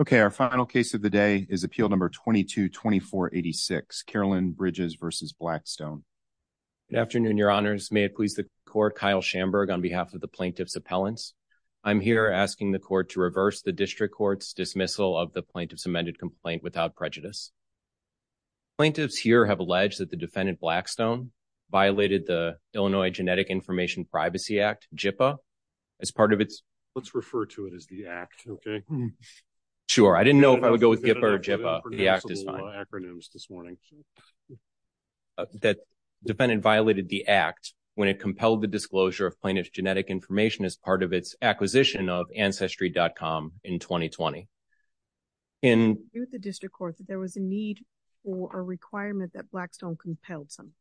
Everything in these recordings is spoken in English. Okay, our final case of the day is appeal number 22-2486, Carolyn Bridges v. Blackstone. Good afternoon, your honors. May it please the court, Kyle Schamberg on behalf of the plaintiff's appellants. I'm here asking the court to reverse the district court's dismissal of the plaintiff's amended complaint without prejudice. Plaintiffs here have alleged that the defendant Blackstone violated the Illinois Genetic Information Privacy Act, JIPA, as part of its... Sure, I didn't know if I would go with JIPA or GIPA. The act is fine. That defendant violated the act when it compelled the disclosure of plaintiff's genetic information as part of its acquisition of Ancestry.com in 2020. In the district court, there was a need for a requirement that Blackstone compelled some.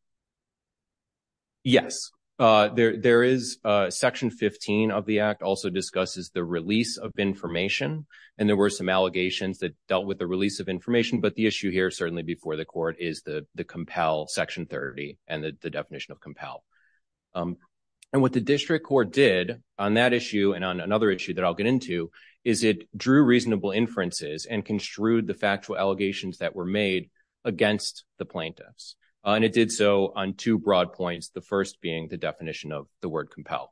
Yes, there is. Section 15 of the act also discusses the release of information. And there were some allegations that dealt with the release of information. But the issue here, certainly before the court, is the compel, section 30, and the definition of compel. And what the district court did on that issue and on another issue that I'll get into is it drew reasonable inferences and construed the factual allegations that were made against the plaintiffs. And it did so on two broad points, the first being the definition of the word compel.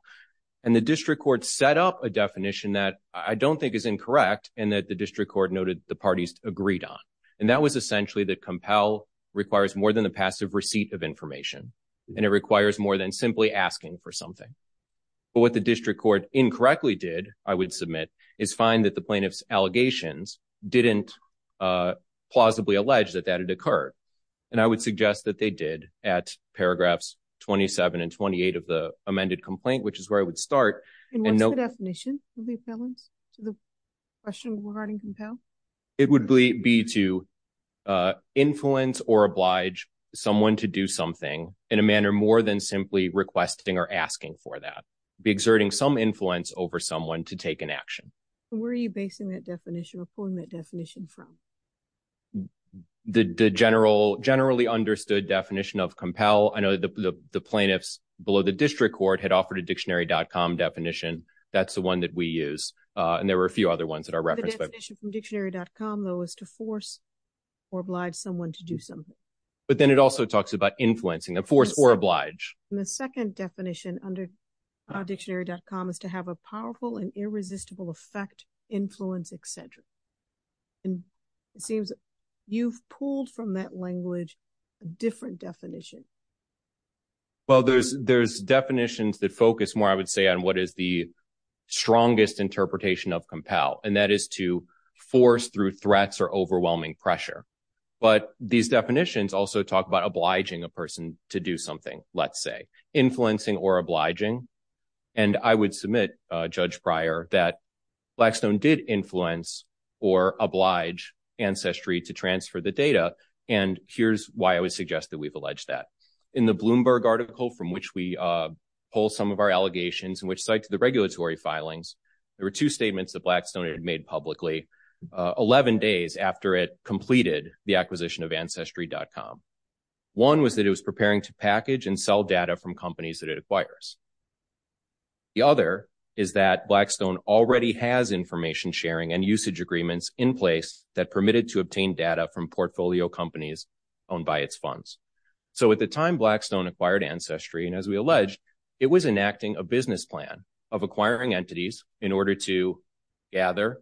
And the district court set up a definition that I don't think is incorrect, and that the district court noted the parties agreed on. And that was essentially that compel requires more than the passive receipt of information, and it requires more than simply asking for something. But what the district court incorrectly did, I would submit, is find that the And I would suggest that they did at paragraphs 27 and 28 of the amended complaint, which is where I would start. And what's the definition of the appellants to the question regarding compel? It would be to influence or oblige someone to do something in a manner more than simply requesting or asking for that. Be exerting some influence over someone to take an action. Where are you basing that definition or pulling that definition from? The generally understood definition of compel, I know the plaintiffs below the district court had offered a dictionary.com definition. That's the one that we use. And there were a few other ones that are referenced. The definition from dictionary.com, though, is to force or oblige someone to do something. But then it also talks about influencing them, force or oblige. And the second definition under dictionary.com is to have a powerful and irresistible effect, influence, et cetera. And it seems you've pulled from that language a different definition. Well, there's definitions that focus more, I would say, on what is the strongest interpretation of compel, and that is to force through threats or overwhelming pressure. But these definitions also talk about obliging a person to do something, let's say, influencing or obliging. And I would influence or oblige Ancestry to transfer the data. And here's why I would suggest that we've alleged that. In the Bloomberg article from which we pull some of our allegations and which cites the regulatory filings, there were two statements that Blackstone had made publicly 11 days after it completed the acquisition of Ancestry.com. One was that it was preparing to package and sell data from companies that it acquires. The other is that Blackstone already has information sharing and usage agreements in place that permitted to obtain data from portfolio companies owned by its funds. So at the time Blackstone acquired Ancestry, and as we alleged, it was enacting a business plan of acquiring entities in order to gather,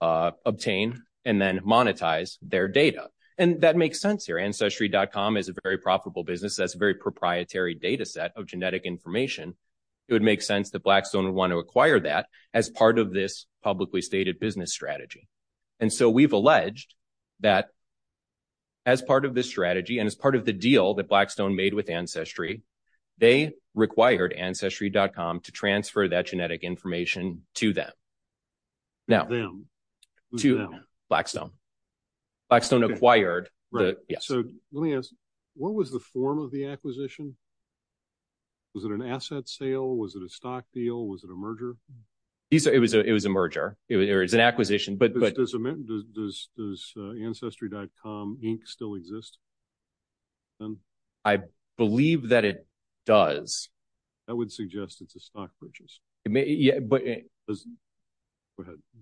obtain, and then monetize their data. And that makes sense here. Ancestry.com is a very profitable business. That's a very proprietary data set of genetic information. It would make sense that Blackstone would want to acquire that as part of this publicly stated business strategy. And so we've alleged that as part of this strategy and as part of the deal that Blackstone made with Ancestry, they required Ancestry.com to transfer that data. Let me ask, what was the form of the acquisition? Was it an asset sale? Was it a stock deal? Was it a merger? It was a merger. It was an acquisition. Does Ancestry.com Inc. still exist? I believe that it does. That would suggest it's a stock purchase.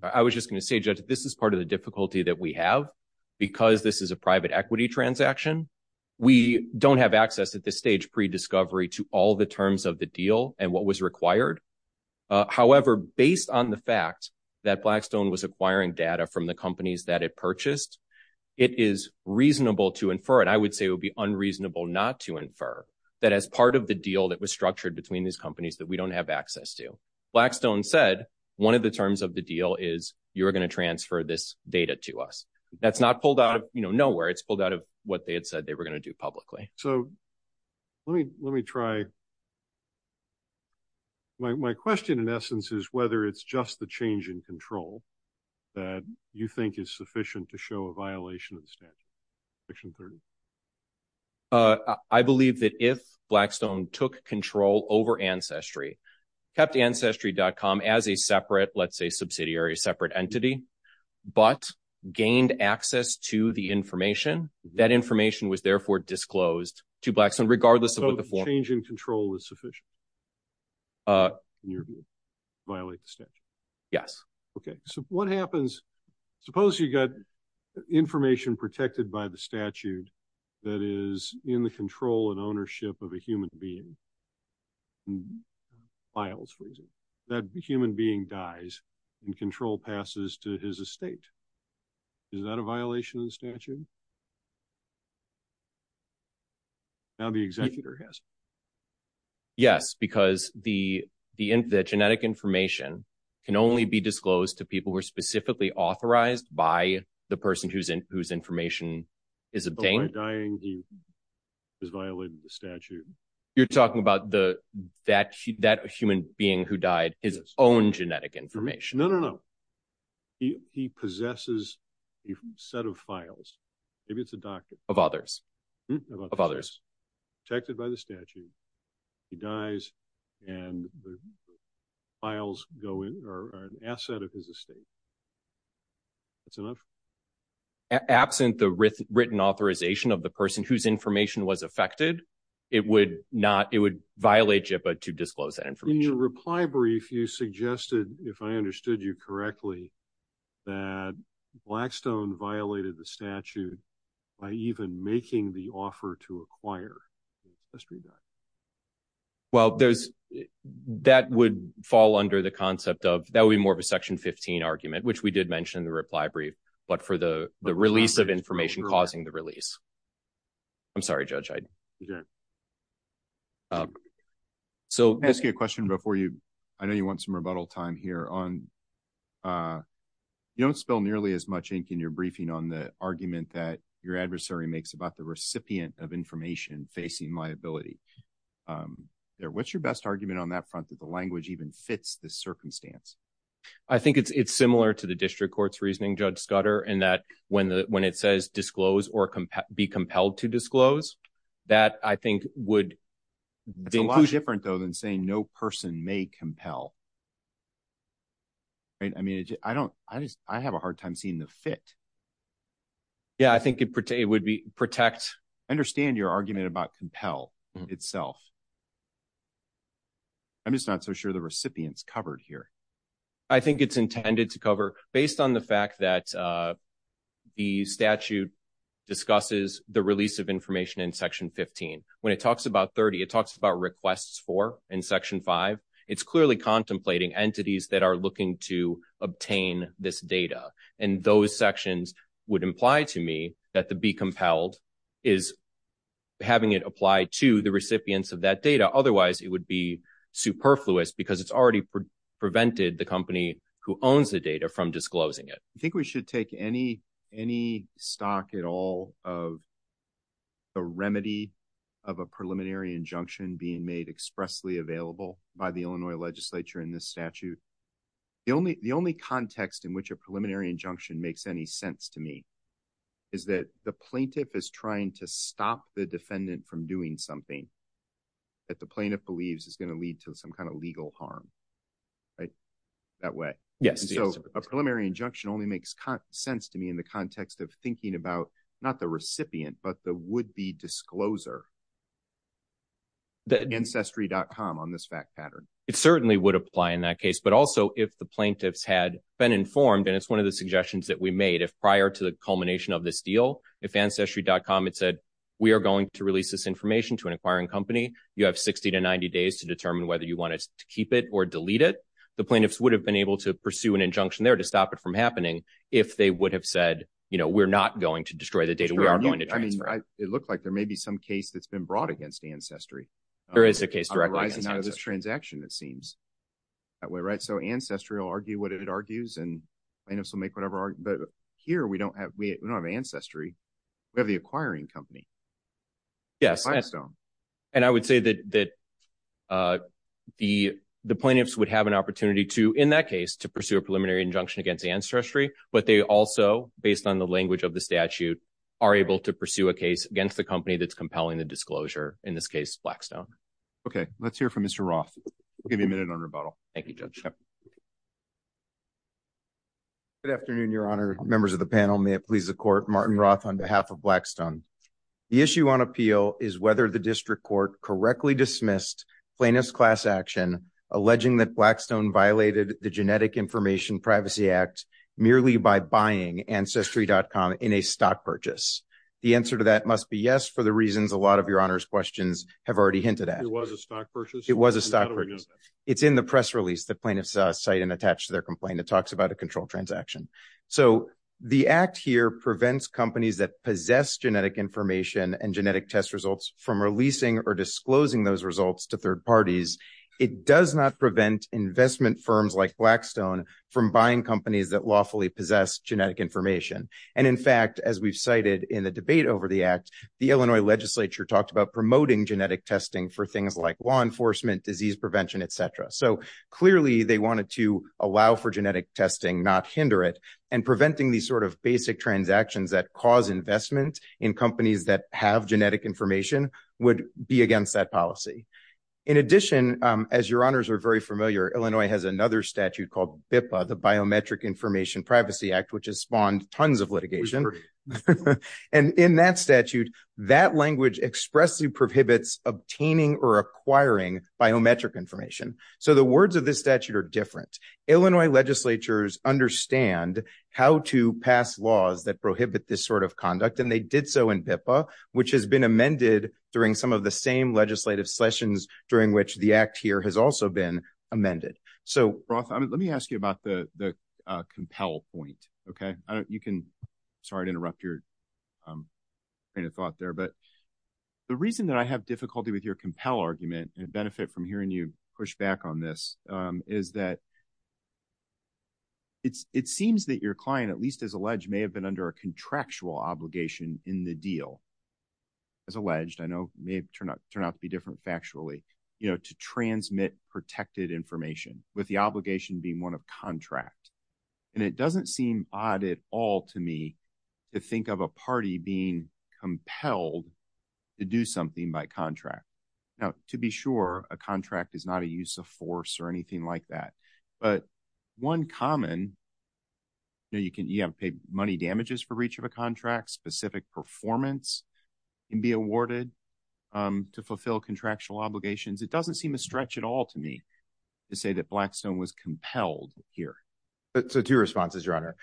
I was just going to say, this is part of the difficulty that we have because this is a private equity transaction. We don't have access at this stage, pre-discovery, to all the terms of the deal and what was required. However, based on the fact that Blackstone was acquiring data from the companies that it purchased, it is reasonable to infer, and I would say it would be unreasonable not to infer, that as part of the deal that was structured between these companies that we don't have access to, Blackstone said one of the terms of the deal is you're going to transfer this data to us. That's not pulled out of nowhere. It's pulled out of what they had said they were going to do publicly. My question, in essence, is whether it's just the change in control that you think is sufficient to show a violation of the statute, section 30? I believe that if Blackstone took control over Ancestry, kept Ancestry.com as a separate, let's say subsidiary, separate entity, but gained access to the information, that information was therefore disclosed to Blackstone regardless of the form. So the change in control is sufficient to violate the statute? Yes. Okay. So what happens, suppose you got information protected by the statute that is in the control and ownership of a human being? Miles, for example. That human being dies and control passes to his estate. Is that a violation of the statute? Now the executor has it. Yes, because the genetic information can only be disclosed to people who are specifically authorized by the person whose information is obtained. By dying, he has violated the statute. You're talking about that human being who died, his own genetic information? No, no, no. He possesses a set of files. Maybe it's a docket. Of others? Of others. Protected by the statute. He dies and the files go in, are an asset of his estate. That's enough? Absent the written authorization of the person whose information was affected, it would not, it would violate JIPA to disclose that information. In your reply brief, you suggested, if I understood you correctly, that Blackstone violated the statute by even making the offer to acquire the history document. Well, there's, that would fall under the concept of, that would be more of a section 15 argument, which we did mention in the reply brief, but for the release of information causing the release. I'm sorry, Judge. So I'll ask you a question before you, I know you want some rebuttal time here on, you don't spill nearly as much ink in your briefing on the argument that your adversary makes about the recipient of information facing liability. What's your best argument on that that the language even fits this circumstance? I think it's similar to the district court's reasoning, Judge Scudder, in that when it says disclose or be compelled to disclose, that I think would. It's a lot different though than saying no person may compel. Right? I mean, I don't, I just, I have a hard time seeing the fit. Yeah, I think it would be protect. I understand your argument about compel itself. I'm just not so sure the recipients covered here. I think it's intended to cover based on the fact that the statute discusses the release of information in section 15. When it talks about 30, it talks about requests for in section five. It's clearly contemplating entities that are looking to obtain this data. And those sections would imply to me that the be compelled is having it apply to the recipients of that data. Otherwise it would be superfluous because it's already prevented the company who owns the data from disclosing it. I think we should take any, any stock at all of the remedy of a preliminary injunction being made expressly available by the Illinois legislature in this statute. The only, the only context in which a preliminary injunction makes any sense to me is that the plaintiff is trying to stop the defendant from doing something that the plaintiff believes is going to lead to some kind of legal harm, right? That way. Yes. So a preliminary injunction only makes sense to me in the context of thinking about not the recipient, but the would be discloser that ancestry.com on this fact pattern. It certainly would apply in that case, but also if the plaintiffs had been informed, and it's one of the suggestions that we made if prior to the culmination of this deal, if ancestry.com, it said, we are going to release this information to an acquiring company. You have 60 to 90 days to determine whether you want us to keep it or delete it. The plaintiffs would have been able to pursue an injunction there to stop it from happening. If they would have said, you know, we're not going to destroy the data. We are going to transfer. It looked like there may be some case that's been brought against ancestry. There is a case. Transaction, it seems that way, right? So ancestry will argue what it argues and plaintiffs will make whatever, but here we don't have, we don't have ancestry. We have the acquiring company. Yes. And I would say that the plaintiffs would have an opportunity to, in that case, to pursue a preliminary injunction against ancestry, but they also, based on the language of the statute, are able to pursue a case against the company that's here from Mr. Roth. We'll give you a minute on rebuttal. Thank you, judge. Good afternoon, your honor, members of the panel. May it please the court, Martin Roth on behalf of Blackstone. The issue on appeal is whether the district court correctly dismissed plaintiff's class action, alleging that Blackstone violated the genetic information privacy act merely by buying ancestry.com in a stock purchase. The answer to that must be yes, for the reasons a lot of your honors questions have already hinted at. It was a stock purchase. It's in the press release that plaintiffs cite and attach to their complaint that talks about a control transaction. So the act here prevents companies that possess genetic information and genetic test results from releasing or disclosing those results to third parties. It does not prevent investment firms like Blackstone from buying companies that lawfully possess genetic information. And in fact, as we've cited in the debate over the act, the Illinois legislature talked about promoting genetic testing for things like law enforcement, disease prevention, et cetera. So clearly they wanted to allow for genetic testing, not hinder it and preventing these sort of basic transactions that cause investment in companies that have genetic information would be against that policy. In addition, as your honors are very familiar, Illinois has another statute called BIPA, the biometric information privacy act, which has spawned tons of litigation. And in that statute, that language expressly prohibits obtaining or acquiring biometric information. So the words of this statute are different. Illinois legislatures understand how to pass laws that prohibit this sort of conduct. And they did so in BIPA, which has been amended during some of the same legislative sessions during which the act here has also been amended. So, Roth, let me ask you about the compel point, okay? Sorry to interrupt your kind of thought there, but the reason that I have difficulty with your compel argument and benefit from hearing you push back on this is that it seems that your client, at least as alleged, may have been under a contractual obligation in the deal. As alleged, I know it may turn out to different factually, you know, to transmit protected information with the obligation being one of contract. And it doesn't seem odd at all to me to think of a party being compelled to do something by contract. Now, to be sure, a contract is not a use of force or anything like that. But one common, you know, you have to pay money damages for each of the contracts, specific performance can be awarded to fulfill contractual obligations. It doesn't seem a stretch at all to me to say that Blackstone was compelled here. So, two responses, Your Honor.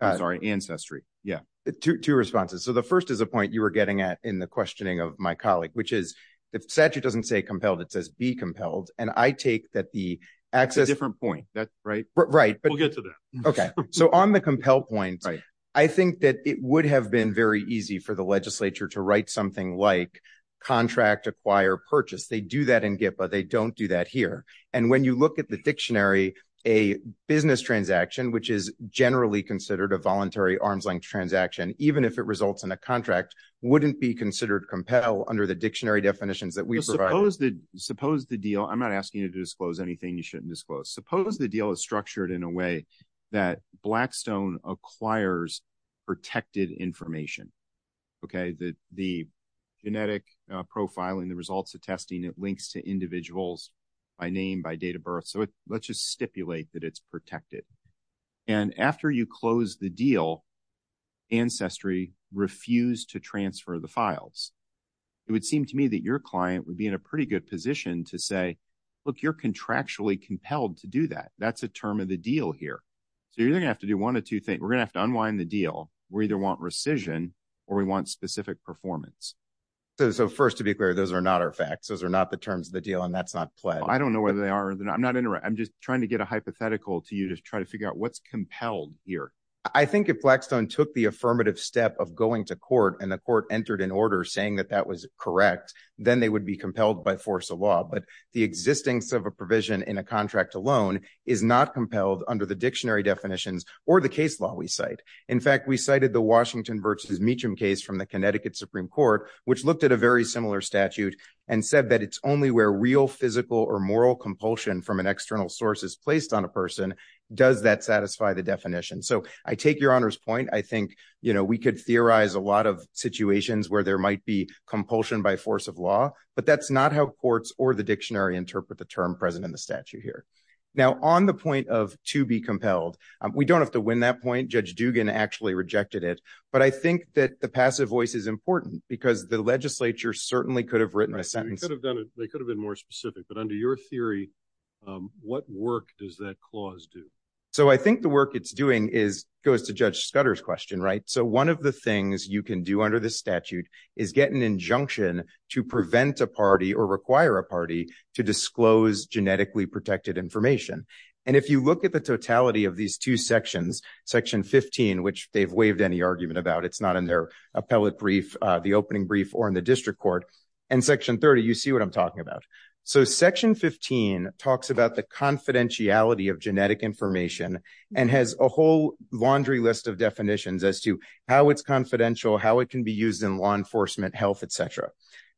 Sorry, ancestry. Yeah, two responses. So, the first is a point you were getting at in the questioning of my colleague, which is if statute doesn't say compelled, it says be compelled. And I take that the access... It's a different point, right? Right. We'll get to that. Okay. So, on the compelled point, I think that it would have been very easy for the legislature to write something like contract acquire purchase. They do that in GIPA. They don't do that here. And when you look at the dictionary, a business transaction, which is generally considered a voluntary arm's length transaction, even if it results in a contract, wouldn't be considered compelled under the dictionary definitions that we provide. Suppose the deal... I'm not asking you to disclose anything you shouldn't disclose. Suppose the deal is structured in a way that Blackstone acquires protected information. Okay. The genetic profiling, the results of testing, it links to individuals by name, by date of birth. So, let's just stipulate that it's protected. And after you close the deal, ancestry refused to transfer the files. It would seem to me that your client would be in a pretty good position to say, look, you're contractually compelled to do that. That's a term of the deal here. So, you're going to have to do one of two things. We're going to have to unwind the deal. We either want rescission or we want specific performance. So, first, to be clear, those are not our facts. Those are not the terms of the deal, and that's not pledged. I don't know whether they are or they're not. I'm not... I'm just trying to get a hypothetical to you to try to figure out what's compelled here. I think if Blackstone took the affirmative step of going to court and the court entered an order saying that that was correct, then they would be compelled by force of law. But the existence of a provision in a contract alone is not compelled under the dictionary definitions or the case law we cite. In fact, we cited the Washington v. Meacham case from the Connecticut Supreme Court, which looked at a very similar statute and said that it's only where real physical or moral compulsion from an external source is placed on a person does that satisfy the definition. So, I take your Honor's point. I think, you know, we could theorize a lot of compulsion by force of law, but that's not how courts or the dictionary interpret the term present in the statute here. Now, on the point of to be compelled, we don't have to win that point. Judge Dugan actually rejected it. But I think that the passive voice is important because the legislature certainly could have written a sentence. They could have done it. They could have been more specific. But under your theory, what work does that clause do? So, I think the work it's doing is... goes to Judge Scudder's question, right? So, one of the things you can do under the statute is get an injunction to prevent a party or require a party to disclose genetically protected information. And if you look at the totality of these two sections, section 15, which they've waived any argument about, it's not in their appellate brief, the opening brief or in the district court, and section 30, you see what I'm talking about. So, section 15 talks about the confidentiality of genetic information and has a whole laundry list of definitions as to how it's confidential, how it can be used in law enforcement, health, etc.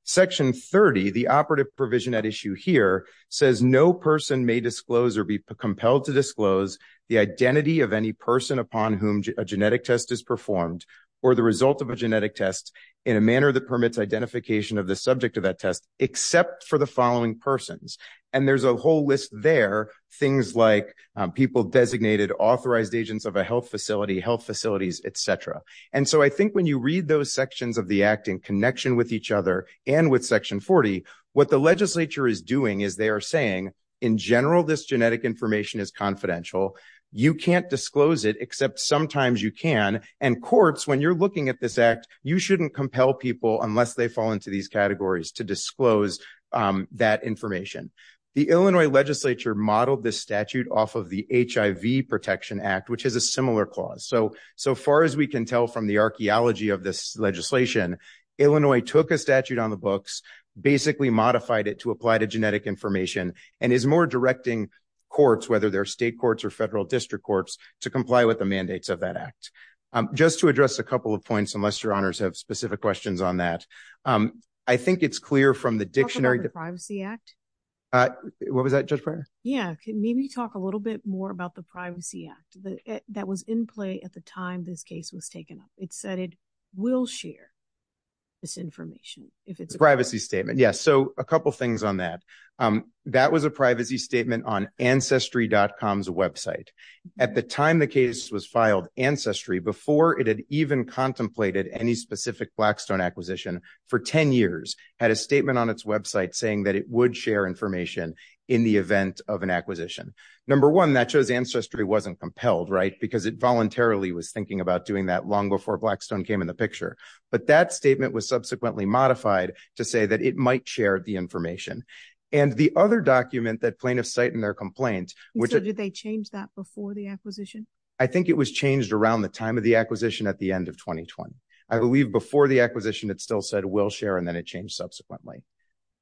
Section 30, the operative provision at issue here, says no person may disclose or be compelled to disclose the identity of any person upon whom a genetic test is performed or the result of a genetic test in a manner that permits identification of the subject of that test, except for the following persons. And there's a whole list there, things like people designated authorized agents of a health facility, health facilities, etc. And so, I think when you read those sections of the act in connection with each other and with section 40, what the legislature is doing is they are saying, in general, this genetic information is confidential. You can't disclose it, except sometimes you can. And courts, when you're looking at this act, you shouldn't compel people unless they fall into these categories to disclose that information. The Illinois legislature modeled this statute off of the HIV Protection Act, which has a similar clause. So, so far as we can tell from the archaeology of this legislation, Illinois took a statute on the books, basically modified it to apply to genetic information, and is more directing courts, whether they're state courts or federal district courts, to comply with the mandates of that act. Just to address a couple of points, unless your honors have specific questions on that, I think it's clear from the dictionary- Talk about the Privacy Act? What was that, Judge Breyer? Yeah, maybe talk a little bit more about the Privacy Act that was in play at the time this case was taken up. It said it will share this information if it's- The Privacy Statement, yes. So, a couple things on that. That was a Privacy Statement on Blackstone acquisition for 10 years, had a statement on its website saying that it would share information in the event of an acquisition. Number one, that shows ancestry wasn't compelled, right? Because it voluntarily was thinking about doing that long before Blackstone came in the picture. But that statement was subsequently modified to say that it might share the information. And the other document that plaintiffs cite in their complaint- And so did they change that before the acquisition? I think it was changed around the time of the acquisition at the end of 2020. Before the acquisition, it still said it will share, and then it changed subsequently.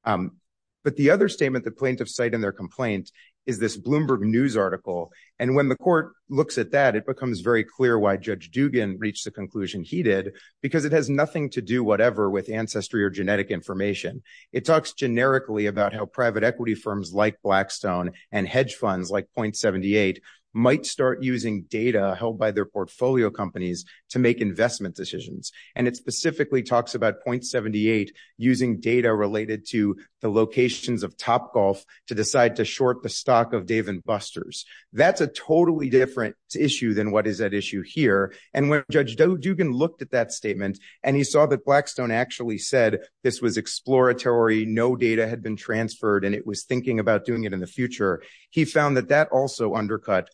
But the other statement that plaintiffs cite in their complaint is this Bloomberg News article. And when the court looks at that, it becomes very clear why Judge Dugan reached the conclusion he did, because it has nothing to do whatever with ancestry or genetic information. It talks generically about how private equity firms like Blackstone and hedge funds like Point78 might start using data held by their portfolio companies to make investment decisions. And it specifically talks about Point78 using data related to the locations of Topgolf to decide to short the stock of Dave & Busters. That's a totally different issue than what is at issue here. And when Judge Dugan looked at that statement, and he saw that Blackstone actually said this was exploratory, no data had been transferred, and it was thinking about doing it in the future, he found that that also undercut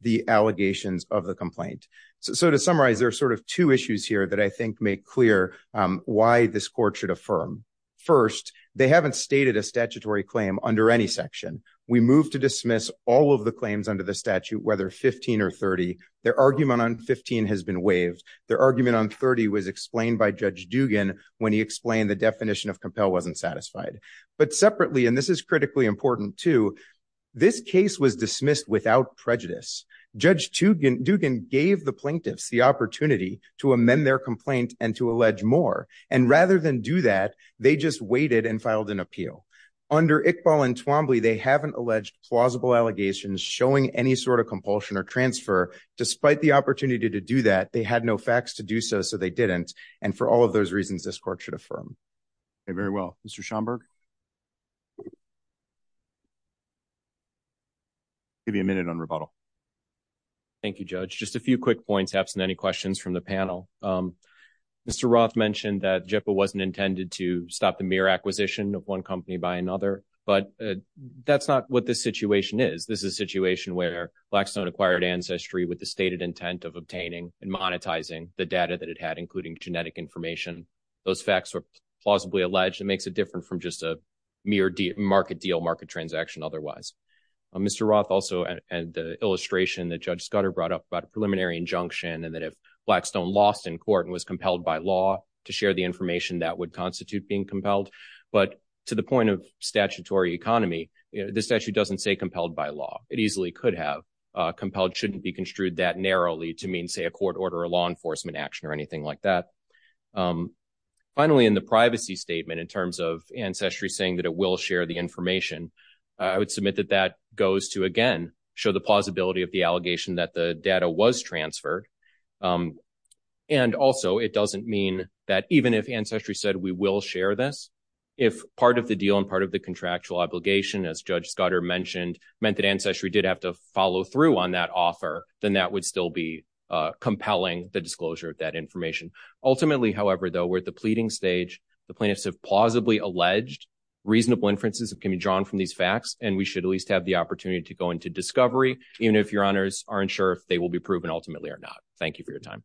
the allegations of the complaint. So to summarize, there are sort of two issues here that I think make clear why this court should affirm. First, they haven't stated a statutory claim under any section. We move to dismiss all of the claims under the statute, whether 15 or 30. Their argument on 15 has been waived. Their argument on 30 was explained by Judge Dugan when he explained the definition of compel wasn't satisfied. But separately, and this is critically important too, this case was dismissed without prejudice. Judge Dugan gave the plaintiffs the opportunity to amend their complaint and to allege more. And rather than do that, they just waited and filed an appeal. Under Iqbal and Twombly, they haven't alleged plausible allegations showing any sort of compulsion or transfer. Despite the opportunity to do that, they had no facts to do so, so they didn't. And for all of those reasons, this court should affirm. Okay, very well. Mr. Schomburg? Give you a minute on rebuttal. Thank you, Judge. Just a few quick points, absent any questions from the panel. Mr. Roth mentioned that JIPA wasn't intended to stop the mere acquisition of one company by another, but that's not what this situation is. This is a situation where Blackstone acquired Ancestry with the stated intent of obtaining and monetizing the data that it had, including genetic information. Those facts were plausibly alleged. It makes it different from just a mere market deal, market transaction otherwise. Mr. Roth also, and the illustration that Judge Scudder brought up about a preliminary injunction and that if Blackstone lost in court and was compelled by law to share the information, that would constitute being compelled. But to the point of statutory economy, this statute doesn't say compelled by law. It easily could have. Compelled shouldn't be construed that narrowly to mean, say, a court order, a law enforcement action, or anything like that. Finally, in the privacy statement in terms of Ancestry saying that it will share the information, I would submit that that goes to, again, show the plausibility of the allegation that the data was transferred. And also, it doesn't mean that even if Ancestry said we will share this, if part of the deal and part of the contractual obligation, as Judge Scudder mentioned, meant that Ancestry did have to follow through on that offer, then that would still be compelling, the disclosure of that information. Ultimately, however, though, we're at the pleading stage. The plaintiffs have plausibly alleged reasonable inferences that can be drawn from these facts, and we should at least have the opportunity to go into discovery, even if your honors aren't sure if they will be proven ultimately or not. Thank you for your time.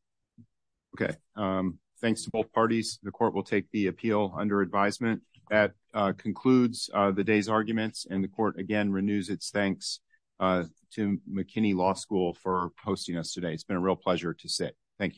Okay. Thanks to both parties. The court will take the appeal under advisement. That concludes the day's arguments, and the court, again, renews its thanks to McKinney Law School for hosting us today. It's been a real pleasure to sit. Thank you.